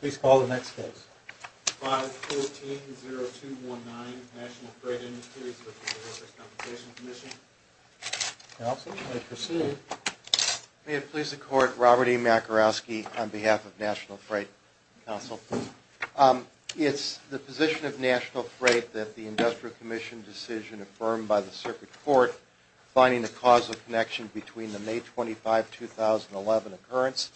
Please call the next case. 5-14-0-2-1-9, National Freight Industries v. Workers' Compensation Comm'n. May it please the Court, Robert E. Makarowski on behalf of National Freight Council. It's the position of National Freight that the Industrial Commission decision affirmed by the Circuit Court finding the causal connection between the May 25, 2011 occurrence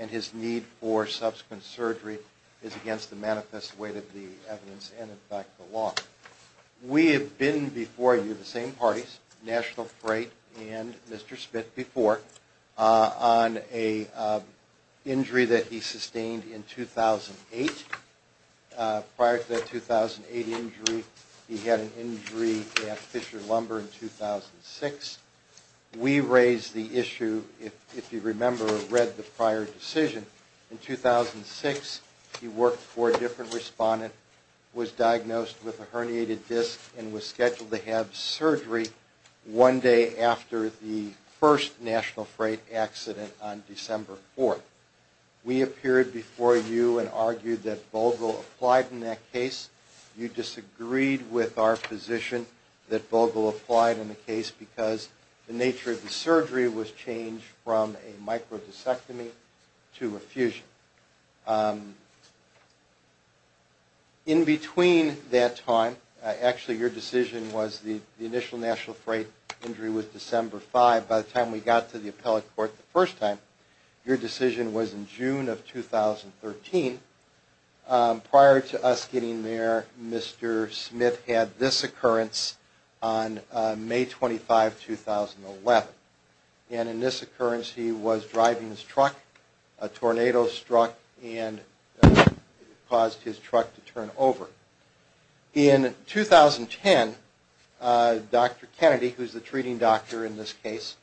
and his need for subsequent surgery is against the manifest way that the evidence and in fact the law. We have been before you, the same parties, National Freight and Mr. Spitt before, on an injury that he sustained in 2008. Prior to that 2008 injury, he had an injury at Fisher Lumber in 2006. We raised the issue, if you remember or read the prior decision. In 2006, he worked for a different respondent, was diagnosed with a herniated disc, and was scheduled to have surgery one day after the first National Freight accident on December 4. We appeared before you and argued that Vogel applied in that case. You disagreed with our position that Vogel applied in the case because the nature of the surgery was changed from a microdiscectomy to a fusion. In between that time, actually your decision was the initial National Freight injury was December 5. By the time we got to the appellate court the first time, your decision was in June of 2013. Prior to us getting there, Mr. Smith had this occurrence on May 25, 2011. And in this occurrence, he was driving his truck. A tornado struck and caused his truck to turn over. In 2010, Dr. Kennedy, who is the treating doctor in this case,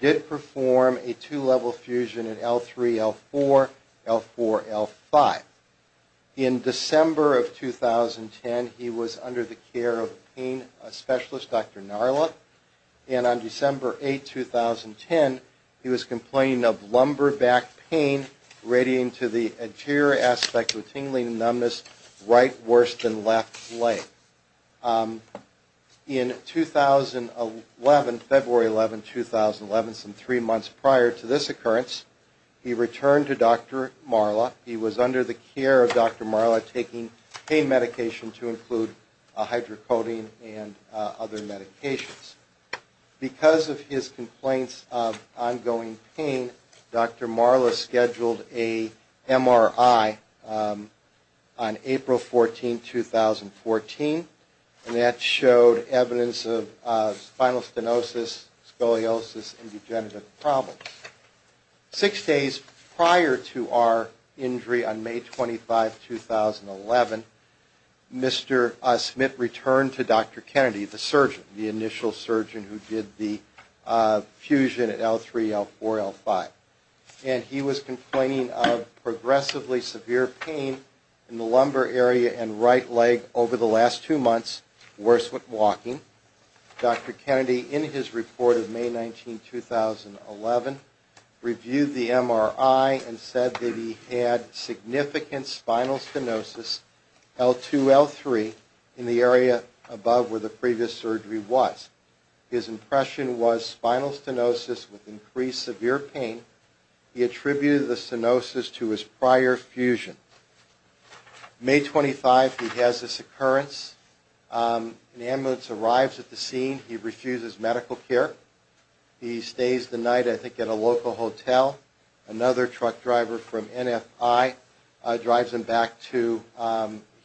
did perform a two-level fusion in L3-L4, L4-L5. In December of 2010, he was under the care of pain specialist Dr. Narla. And on December 8, 2010, he was complaining of lumbar back pain, radiating to the anterior aspect with tingling and numbness, right worse than left leg. In February 11, 2011, some three months prior to this occurrence, he returned to Dr. Narla. He was under the care of Dr. Narla taking pain medication to include a hydrocodone and other medications. Because of his complaints of ongoing pain, Dr. Narla scheduled an MRI on April 14, 2014. And that showed evidence of spinal stenosis, scoliosis, and degenerative problems. Six days prior to our injury on May 25, 2011, Mr. Smith returned to Dr. Kennedy, the surgeon, the initial surgeon who did the fusion at L3-L4-L5. And he was complaining of progressively severe pain in the lumbar area and right leg over the last two months, worse with walking. Dr. Kennedy, in his report of May 19, 2011, reviewed the MRI and said that he had significant spinal stenosis, L2-L3, in the area above where the previous surgery was. His impression was spinal stenosis with increased severe pain. He attributed the stenosis to his prior fusion. May 25, he has this occurrence. An ambulance arrives at the scene. He refuses medical care. He stays the night, I think, at a local hotel. Another truck driver from NFI drives him back to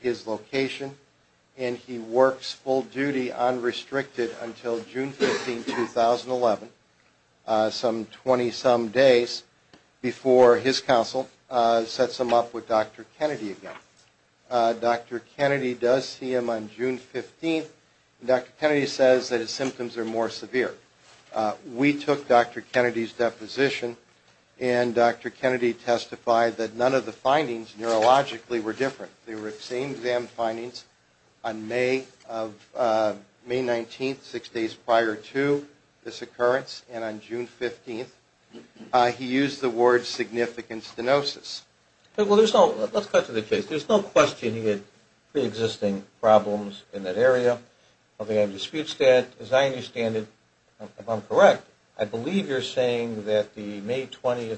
his location. And he works full duty, unrestricted, until June 15, 2011, some 20-some days before his counsel sets him up with Dr. Kennedy again. Dr. Kennedy does see him on June 15, and Dr. Kennedy says that his symptoms are more severe. We took Dr. Kennedy's deposition, and Dr. Kennedy testified that none of the findings neurologically were different. They were the same exam findings on May 19, six days prior to this occurrence, and on June 15, he used the word significant stenosis. Let's cut to the chase. There's no question he had preexisting problems in that area. I think I've disputed that. As I understand it, if I'm correct, I believe you're saying that the May 20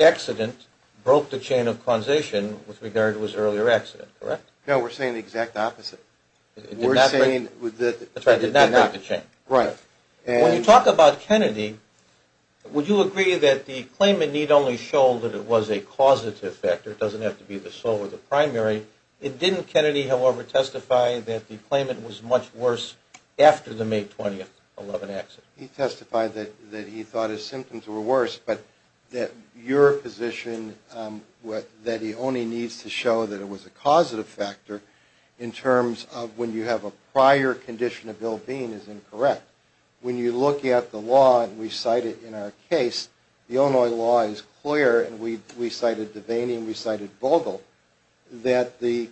accident broke the chain of causation with regard to his earlier accident, correct? No, we're saying the exact opposite. We're saying that it did not break the chain. When you talk about Kennedy, would you agree that the claimant need only show that it was a causative factor? It doesn't have to be the sole or the primary. Didn't Kennedy, however, testify that the claimant was much worse after the May 20, 2011 accident? He testified that he thought his symptoms were worse, but that your position that he only needs to show that it was a causative factor in terms of when you have a prior condition of Bill Bean is incorrect. When you look at the law, and we cite it in our case, the Illinois law is clear, and we cited Devaney and we cited Vogel, that the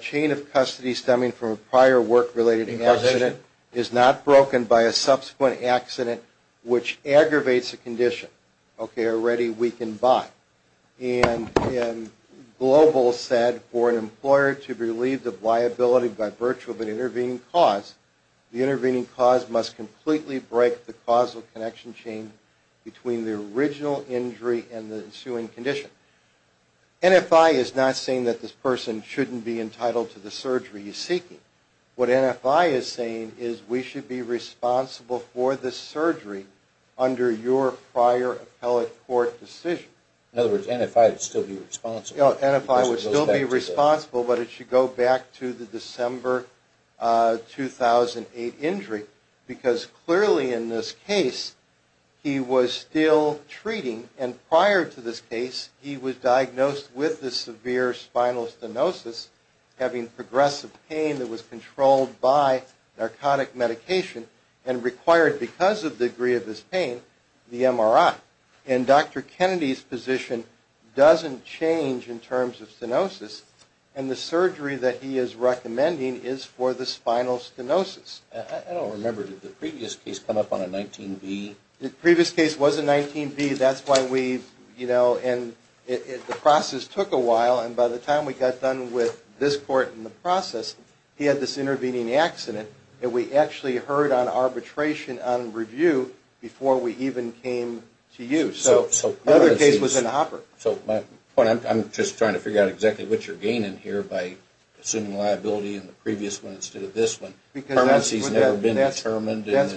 chain of custody stemming from a prior work-related accident is not broken by a subsequent accident. Which aggravates a condition, okay, already weakened by. And Global said, for an employer to be relieved of liability by virtue of an intervening cause, the intervening cause must completely break the causal connection chain between the original injury and the ensuing condition. NFI is not saying that this person shouldn't be entitled to the surgery he's seeking. What NFI is saying is we should be responsible for the surgery under your prior appellate court decision. In other words, NFI would still be responsible? No, NFI would still be responsible, but it should go back to the December 2008 injury, because clearly in this case, he was still treating, and prior to this case, he was diagnosed with the severe spinal stenosis, having progressive pain that was caused by a spinal cord injury. The spinal cord injury was controlled by narcotic medication and required, because of the degree of his pain, the MRI. And Dr. Kennedy's position doesn't change in terms of stenosis, and the surgery that he is recommending is for the spinal stenosis. I don't remember, did the previous case come up on a 19B? The previous case was a 19B, that's why we, you know, and the process took a while, and by the time we got done with this court and the process, he had this intervening accident, and we actually heard on arbitration on review before we even came to you. So my point, I'm just trying to figure out exactly what you're gaining here by assuming liability in the previous one instead of this one. Because that's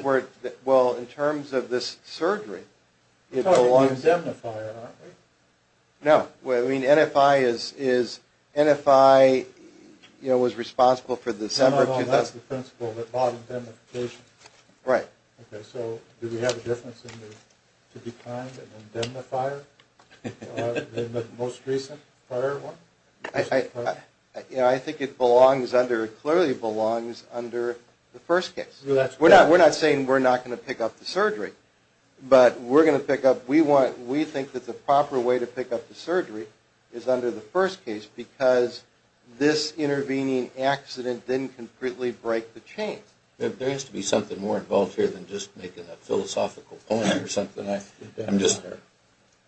where, well, in terms of this surgery, it belongs. You're talking about the indemnifier, aren't we? No, well, I mean, NFI is, NFI, you know, was responsible for December 2008. No, no, no, that's the principle, the bottom indemnification. Right. Okay, so do we have a difference in the, to be kind of an indemnifier in the most recent prior one? You know, I think it belongs under, clearly belongs under the first case. That's correct. We're not saying we're not going to pick up the surgery, but we're going to pick up, we want, we think that the proper way to pick up the surgery is under the first case because this intervening accident didn't completely break the chain. There has to be something more involved here than just making a philosophical point or something. I'm just,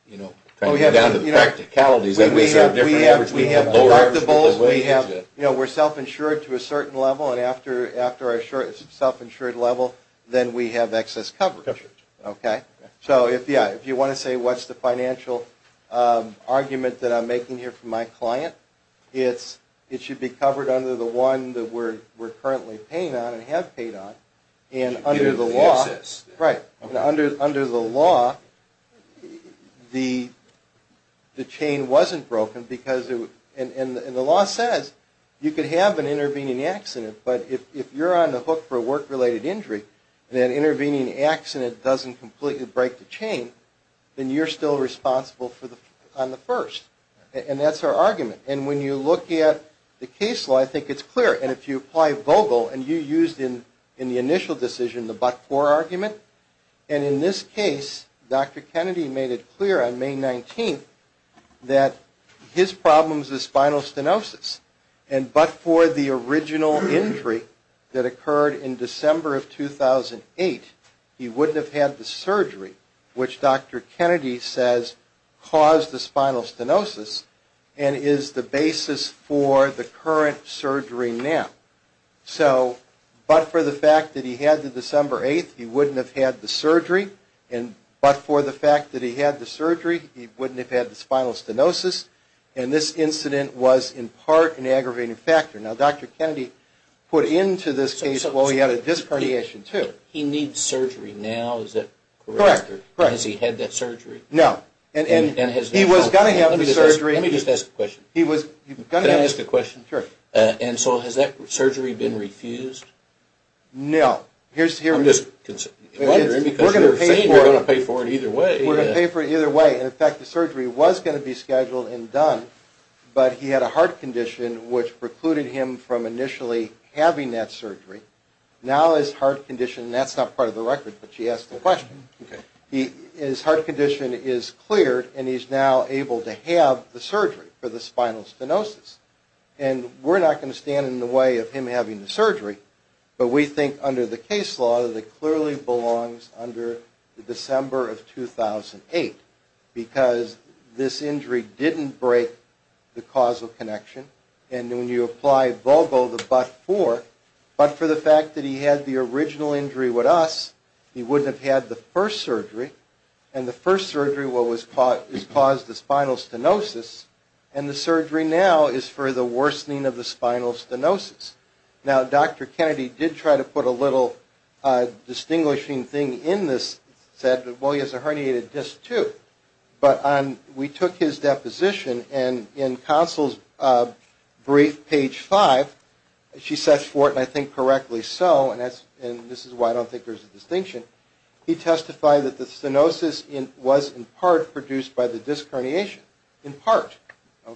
you know, trying to get down to the practicalities. We have deductibles, we have, you know, we're self-insured to a certain level, and after our self-insured level, then we have excess coverage. Okay? So if, yeah, if you want to say what's the financial argument that I'm making here for my client, it's, it should be covered under the one that we're currently paying on and have paid on. And under the law. Right. Under the law, the chain wasn't broken because, and the law says you could have an intervening accident, but if you're on the hook for a work-related injury, and that intervening accident doesn't completely break the chain, then you're still responsible on the first. And that's our argument. And when you look at the case law, I think it's clear. And if you apply Vogel, and you used in the initial decision the but-for argument, and in this case, Dr. Kennedy made it clear on May 19th that his problem is spinal stenosis. And but-for the original injury that occurred in December of 2008, he wouldn't have had the surgery, which Dr. Kennedy says caused the spinal stenosis, and is the basis for the current surgery name. So, but-for the fact that he had the December 8th, he wouldn't have had the surgery, and but-for the fact that he had the surgery, he wouldn't have had the spinal stenosis. And this incident was in part an aggravating factor. Now, Dr. Kennedy put into this case, well, he had a disc herniation, too. He needs surgery now, is that correct? Correct. Has he had that surgery? No. And he was going to have the surgery. Can I ask a question? Sure. And so has that surgery been refused? No. I'm just wondering, because you're saying you're going to pay for it either way. We're going to pay for it either way, and in fact, the surgery was going to be scheduled and done, but he had a heart condition, which precluded him from initially having that surgery. Now his heart condition, and that's not part of the record, but she asked the question. Okay. His heart condition is cleared, and he's now able to have the surgery for the spinal stenosis. And we're not going to stand in the way of him having the surgery, but we think under the case law that it clearly belongs under the December of 2008, because this injury didn't break the causal connection, and when you apply vulvo, the but-for, but for the fact that he had the original injury with us, he wouldn't have had the first surgery, and the first surgery is what caused the spinal stenosis, and the surgery now is for the spinal stenosis. Now, Dr. Kennedy did try to put a little distinguishing thing in this, said, well, he has a herniated disc, too, but we took his deposition, and in counsel's brief, page 5, she says for it, and I think correctly so, and this is why I don't think there's a distinction, he testified that the stenosis was, in part, produced by the disc herniation. In part. In part,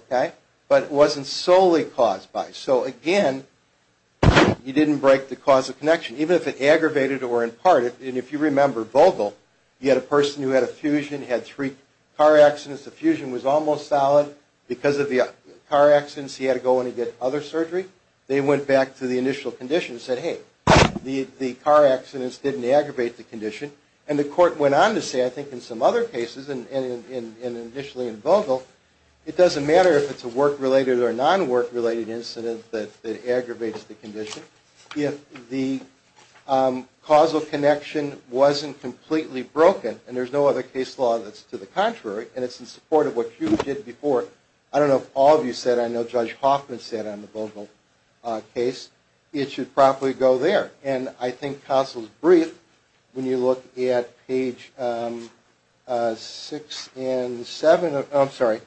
okay. But it wasn't solely caused by, so again, he didn't break the causal connection, even if it aggravated or in part, and if you remember vulvo, you had a person who had a fusion, had three car accidents, the fusion was almost solid, because of the car accidents, he had to go in to get other surgery. They went back to the initial condition and said, hey, the car accidents didn't aggravate the condition. And the court went on to say, I think in some other cases, and initially in vulvo, it doesn't matter if it's a work-related or non-work-related incident that aggravates the condition. If the causal connection wasn't completely broken, and there's no other case law that's to the contrary, and it's in support of what you did before. I don't know if all of you said, I know Judge Hoffman said on the vulvo case, it should properly go there. And I think Counsel's Brief, when you look at page six and seven, I'm sorry,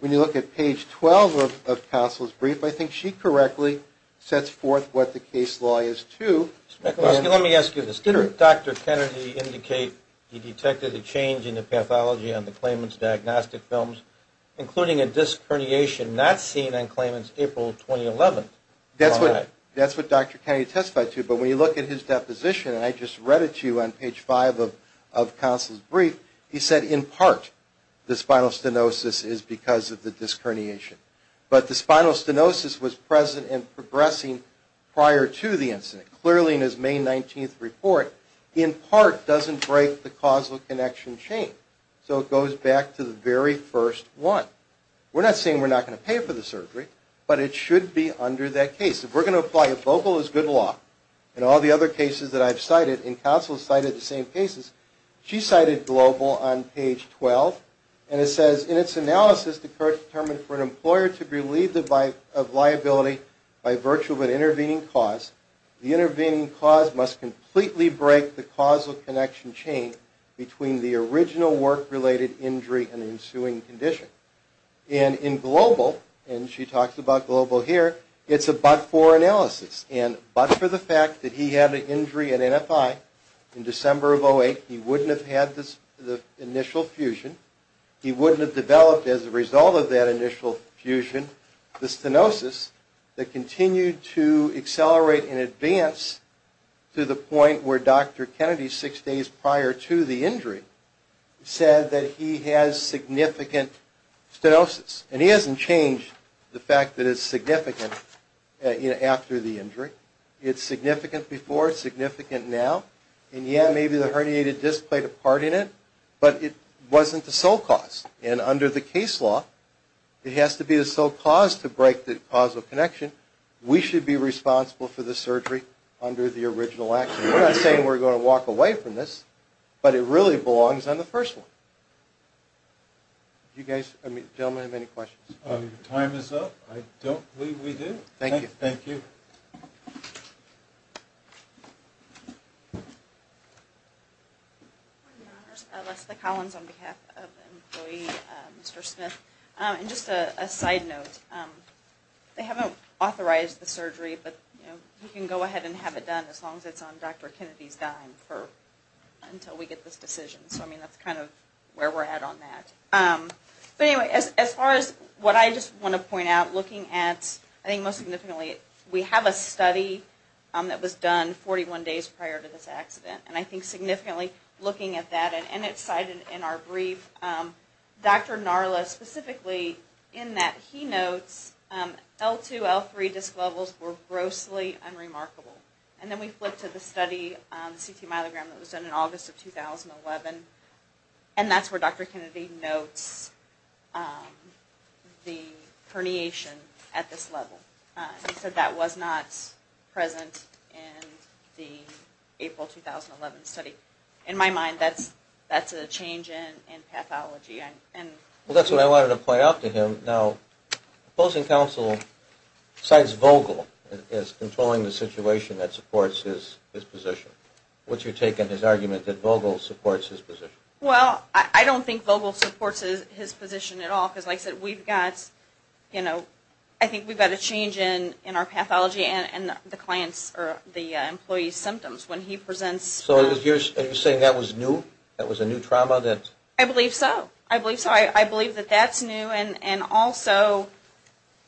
when you look at page 12 of Counsel's Brief, I think she correctly sets forth what the case law is to. Let me ask you this. Did Dr. Kennedy indicate he detected a change in the pathology on the Klayman's diagnostic films, including a disc herniation not seen on Klayman's April 2011? That's what Dr. Kennedy testified to. But when you look at his deposition, and I just read it to you on page five of Counsel's Brief, he said, in part, the spinal stenosis is because of the disc herniation. But the spinal stenosis was present and progressing prior to the incident. Clearly, in his May 19th report, in part, doesn't break the causal connection chain. So it goes back to the very first one. We're not saying we're not going to pay for the surgery, but it should be under that case. If we're going to apply a vocal as good law, and all the other cases that I've cited, and Counsel's cited the same cases, she cited global on page 12. And it says, in its analysis, the court determined for an employer to be relieved of liability by virtue of an intervening cause, the intervening cause must completely break the causal connection chain between the original work-related injury and the ensuing condition. And in global, and she talks about global here, it's a but-for analysis. And but for the fact that he had an injury at NFI in December of 08, he wouldn't have had the initial fusion. He wouldn't have developed, as a result of that initial fusion, the stenosis that continued to accelerate in advance to the point where Dr. Kennedy, six days prior to the injury, said that he has significant stenosis. And he hasn't changed the fact that it's significant after the injury. It's significant before, it's significant now. And yeah, maybe the herniated disc played a part in it, but it wasn't the sole cause. And under the case law, it has to be the sole cause to break the causal connection. We should be responsible for the surgery under the original action. We're not saying we're going to walk away from this, but it really belongs on the first one. Do you guys, gentlemen, have any questions? Time is up. I don't believe we do. Thank you. Thank you. Leslie Collins on behalf of the employee, Mr. Smith. And just a side note. They haven't authorized the surgery, but you can go ahead and have it done as long as it's on Dr. Kennedy's dime until we get this decision. So, I mean, that's kind of where we're at on that. But anyway, as far as what I just want to point out, looking at, I think most significantly, we have a study that was done 41 days prior to this accident. And I think significantly looking at that, and it's cited in our brief, Dr. Narla specifically in that he notes L2, L3 disc levels were grossly unremarkable. And then we flip to the study, the CT myelogram that was done in August of 2011, and that's where Dr. Kennedy notes the herniation at this level. He said that was not present in the April 2011 study. In my mind, that's a change in pathology. Well, that's what I wanted to point out to him. Now, opposing counsel cites Vogel as controlling the situation that supports his position. What's your take on his argument that Vogel supports his position? Well, I don't think Vogel supports his position at all. Because like I said, we've got, you know, I think we've got a change in our pathology and the client's or the employee's symptoms when he presents. So are you saying that was new? That was a new trauma? I believe so. I believe so. That was new. And also,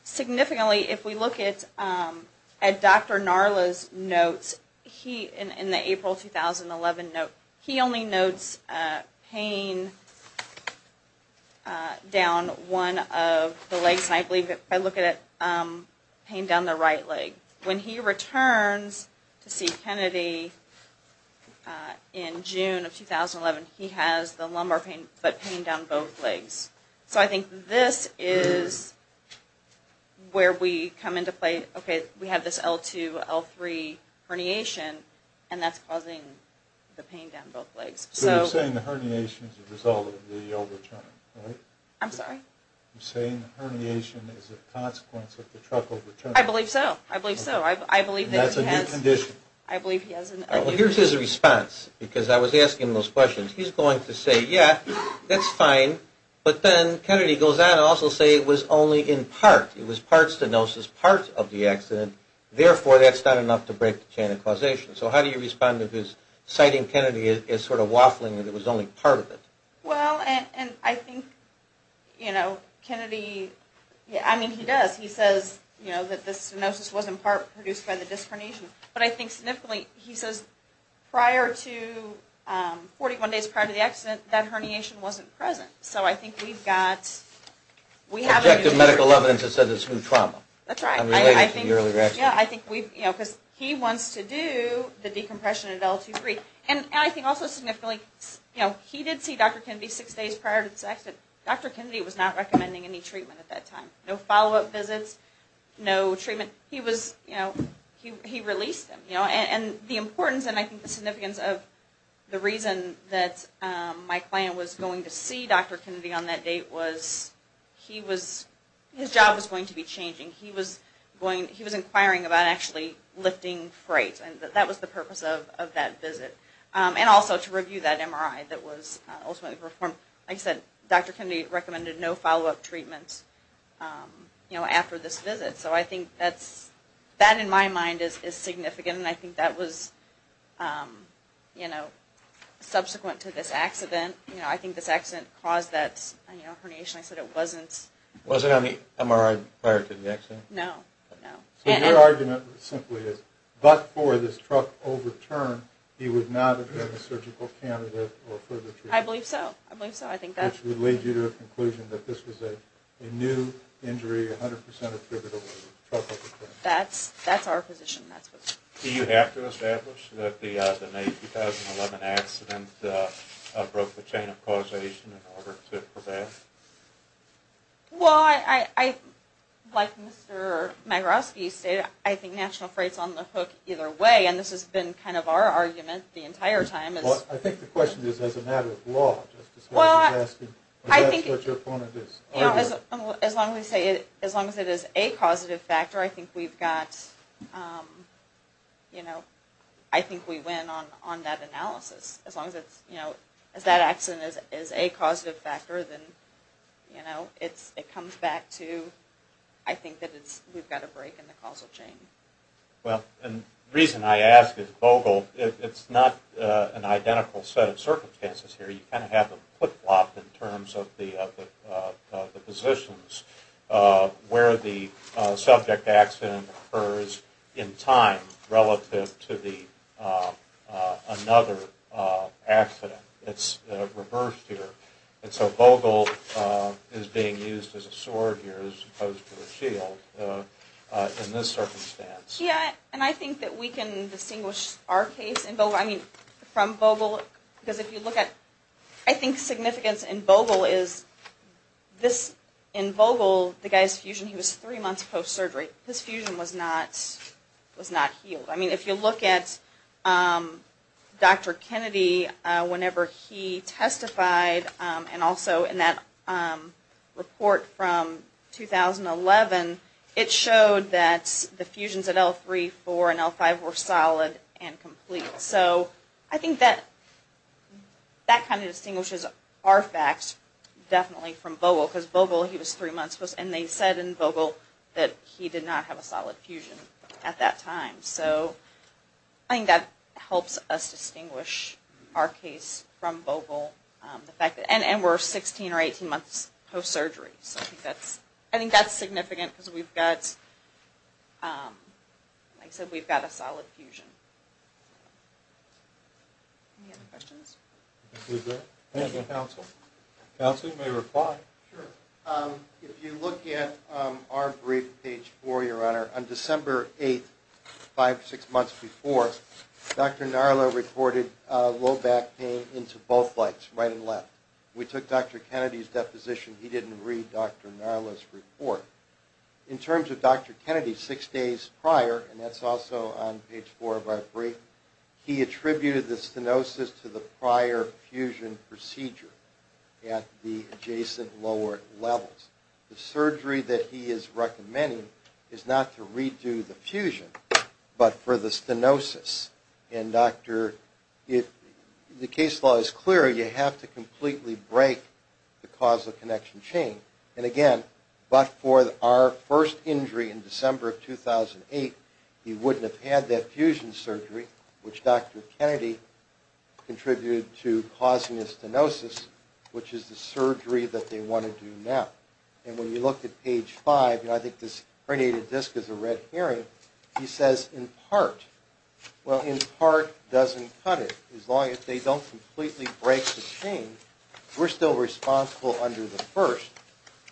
significantly, if we look at Dr. Narla's notes in the April 2011 note, he only notes pain down one of the legs. And I believe if I look at it, pain down the right leg. When he returns to see Kennedy in June of 2011, he has the lumbar pain, but pain down both legs. So I think this is where we come into play. Okay, we have this L2, L3 herniation, and that's causing the pain down both legs. So you're saying the herniation is a result of the overturning, right? I'm sorry? You're saying the herniation is a consequence of the truck overturning. I believe so. I believe so. And that's a new condition. I believe he has a new condition. Well, here's his response, because I was asking those questions. He's going to say, yeah, that's fine. But then Kennedy goes on to also say it was only in part. It was part stenosis, part of the accident. Therefore, that's not enough to break the chain of causation. So how do you respond to his citing Kennedy as sort of waffling that it was only part of it? Well, and I think, you know, Kennedy, I mean, he does. He says, you know, that the stenosis was in part produced by the disc herniation. But I think significantly he says prior to 41 days prior to the accident, that herniation wasn't present. So I think we've got, we have. Objective medical evidence has said it's new trauma. That's right. Unrelated to the earlier accident. Yeah, I think we've, you know, because he wants to do the decompression at L2-3. And I think also significantly, you know, he did see Dr. Kennedy six days prior to this accident. Dr. Kennedy was not recommending any treatment at that time. No follow-up visits, no treatment. And he was, you know, he released him, you know. And the importance and I think the significance of the reason that my client was going to see Dr. Kennedy on that date was he was, his job was going to be changing. He was going, he was inquiring about actually lifting freights. And that was the purpose of that visit. And also to review that MRI that was ultimately performed. Like I said, Dr. Kennedy recommended no follow-up treatments, you know, after this visit. So I think that's, that in my mind is significant. And I think that was, you know, subsequent to this accident. You know, I think this accident caused that, you know, herniation. I said it wasn't. It wasn't on the MRI prior to the accident? No, no. So your argument simply is, but for this truck overturn, he would not have been a surgical candidate for further treatment? I believe so. I believe so. Which would lead you to a conclusion that this was a new injury, 100% attributable to a truck overturn? That's our position. Do you have to establish that the May 2011 accident broke the chain of causation in order to prevent? Well, I, like Mr. Magarowski said, I think national freight's on the hook either way. And this has been kind of our argument the entire time. Well, I think the question is as a matter of law. Well, I think as long as it is a causative factor, I think we've got, you know, I think we win on that analysis. As long as it's, you know, as that accident is a causative factor, then, you know, it comes back to I think that we've got a break in the causal chain. Well, and the reason I ask is Vogel, it's not an identical set of circumstances here. You kind of have a flip-flop in terms of the positions where the subject accident occurs in time relative to the another accident. It's reversed here. And so Vogel is being used as a sword here as opposed to a shield in this circumstance. Yeah, and I think that we can distinguish our case in Vogel, I mean, from Vogel because if you look at, I think significance in Vogel is this, in Vogel, the guy's fusion, he was three months post-surgery. His fusion was not, was not healed. I mean, if you look at Dr. Kennedy, whenever he testified, and also in that report from 2011, it showed that the fusions at L3, L4, and L5 were solid and complete. So I think that kind of distinguishes our facts definitely from Vogel because Vogel, he was three months post, and they said in Vogel that he did not have a solid fusion at that time. So I think that helps us distinguish our case from Vogel, the fact that, and we're 16 or 18 months post-surgery. So I think that's, I think that's significant because we've got, like I said, we've got a solid fusion. Any other questions? Thank you, counsel. Counsel, you may reply. Sure. If you look at our brief, page four, your honor, on December 8th, five, six months before, Dr. Narla reported low back pain into both legs, right and left. We took Dr. Kennedy's deposition. He didn't read Dr. Narla's report. In terms of Dr. Kennedy, six days prior, and that's also on page four of our brief, he attributed the stenosis to the prior fusion procedure at the adjacent lower levels. The surgery that he is recommending is not to redo the fusion, but for the stenosis. And, doctor, the case law is clear. You have to completely break the causal connection chain. And, again, but for our first injury in December of 2008, he wouldn't have had that fusion surgery, which Dr. Kennedy contributed to causing the stenosis, which is the surgery that they want to do now. And when you look at page five, and I think this herniated disc is a red herring, he says, in part, well, in part doesn't cut it. As long as they don't completely break the chain, we're still responsible under the first,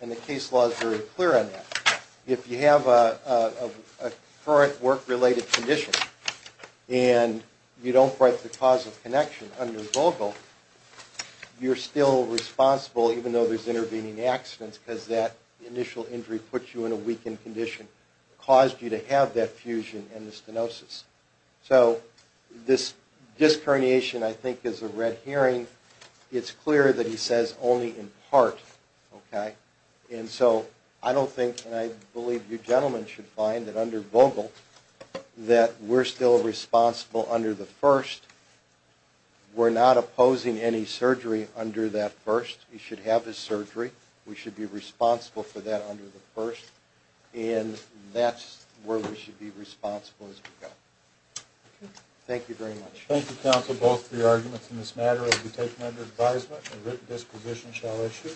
and the case law is very clear on that. If you have a current work-related condition and you don't break the causal connection under vocal, you're still responsible, even though there's intervening accidents, because that initial injury puts you in a weakened condition, caused you to have that fusion and the stenosis. So this disc herniation, I think, is a red herring. It's clear that he says only in part, okay? And so I don't think, and I believe you gentlemen should find that under vocal, that we're still responsible under the first. We're not opposing any surgery under that first. He should have his surgery. We should be responsible for that under the first, and that's where we should be responsible as we go. Thank you very much. Thank you, counsel, both for your arguments in this matter. As we take them under advisement, a written disposition shall issue.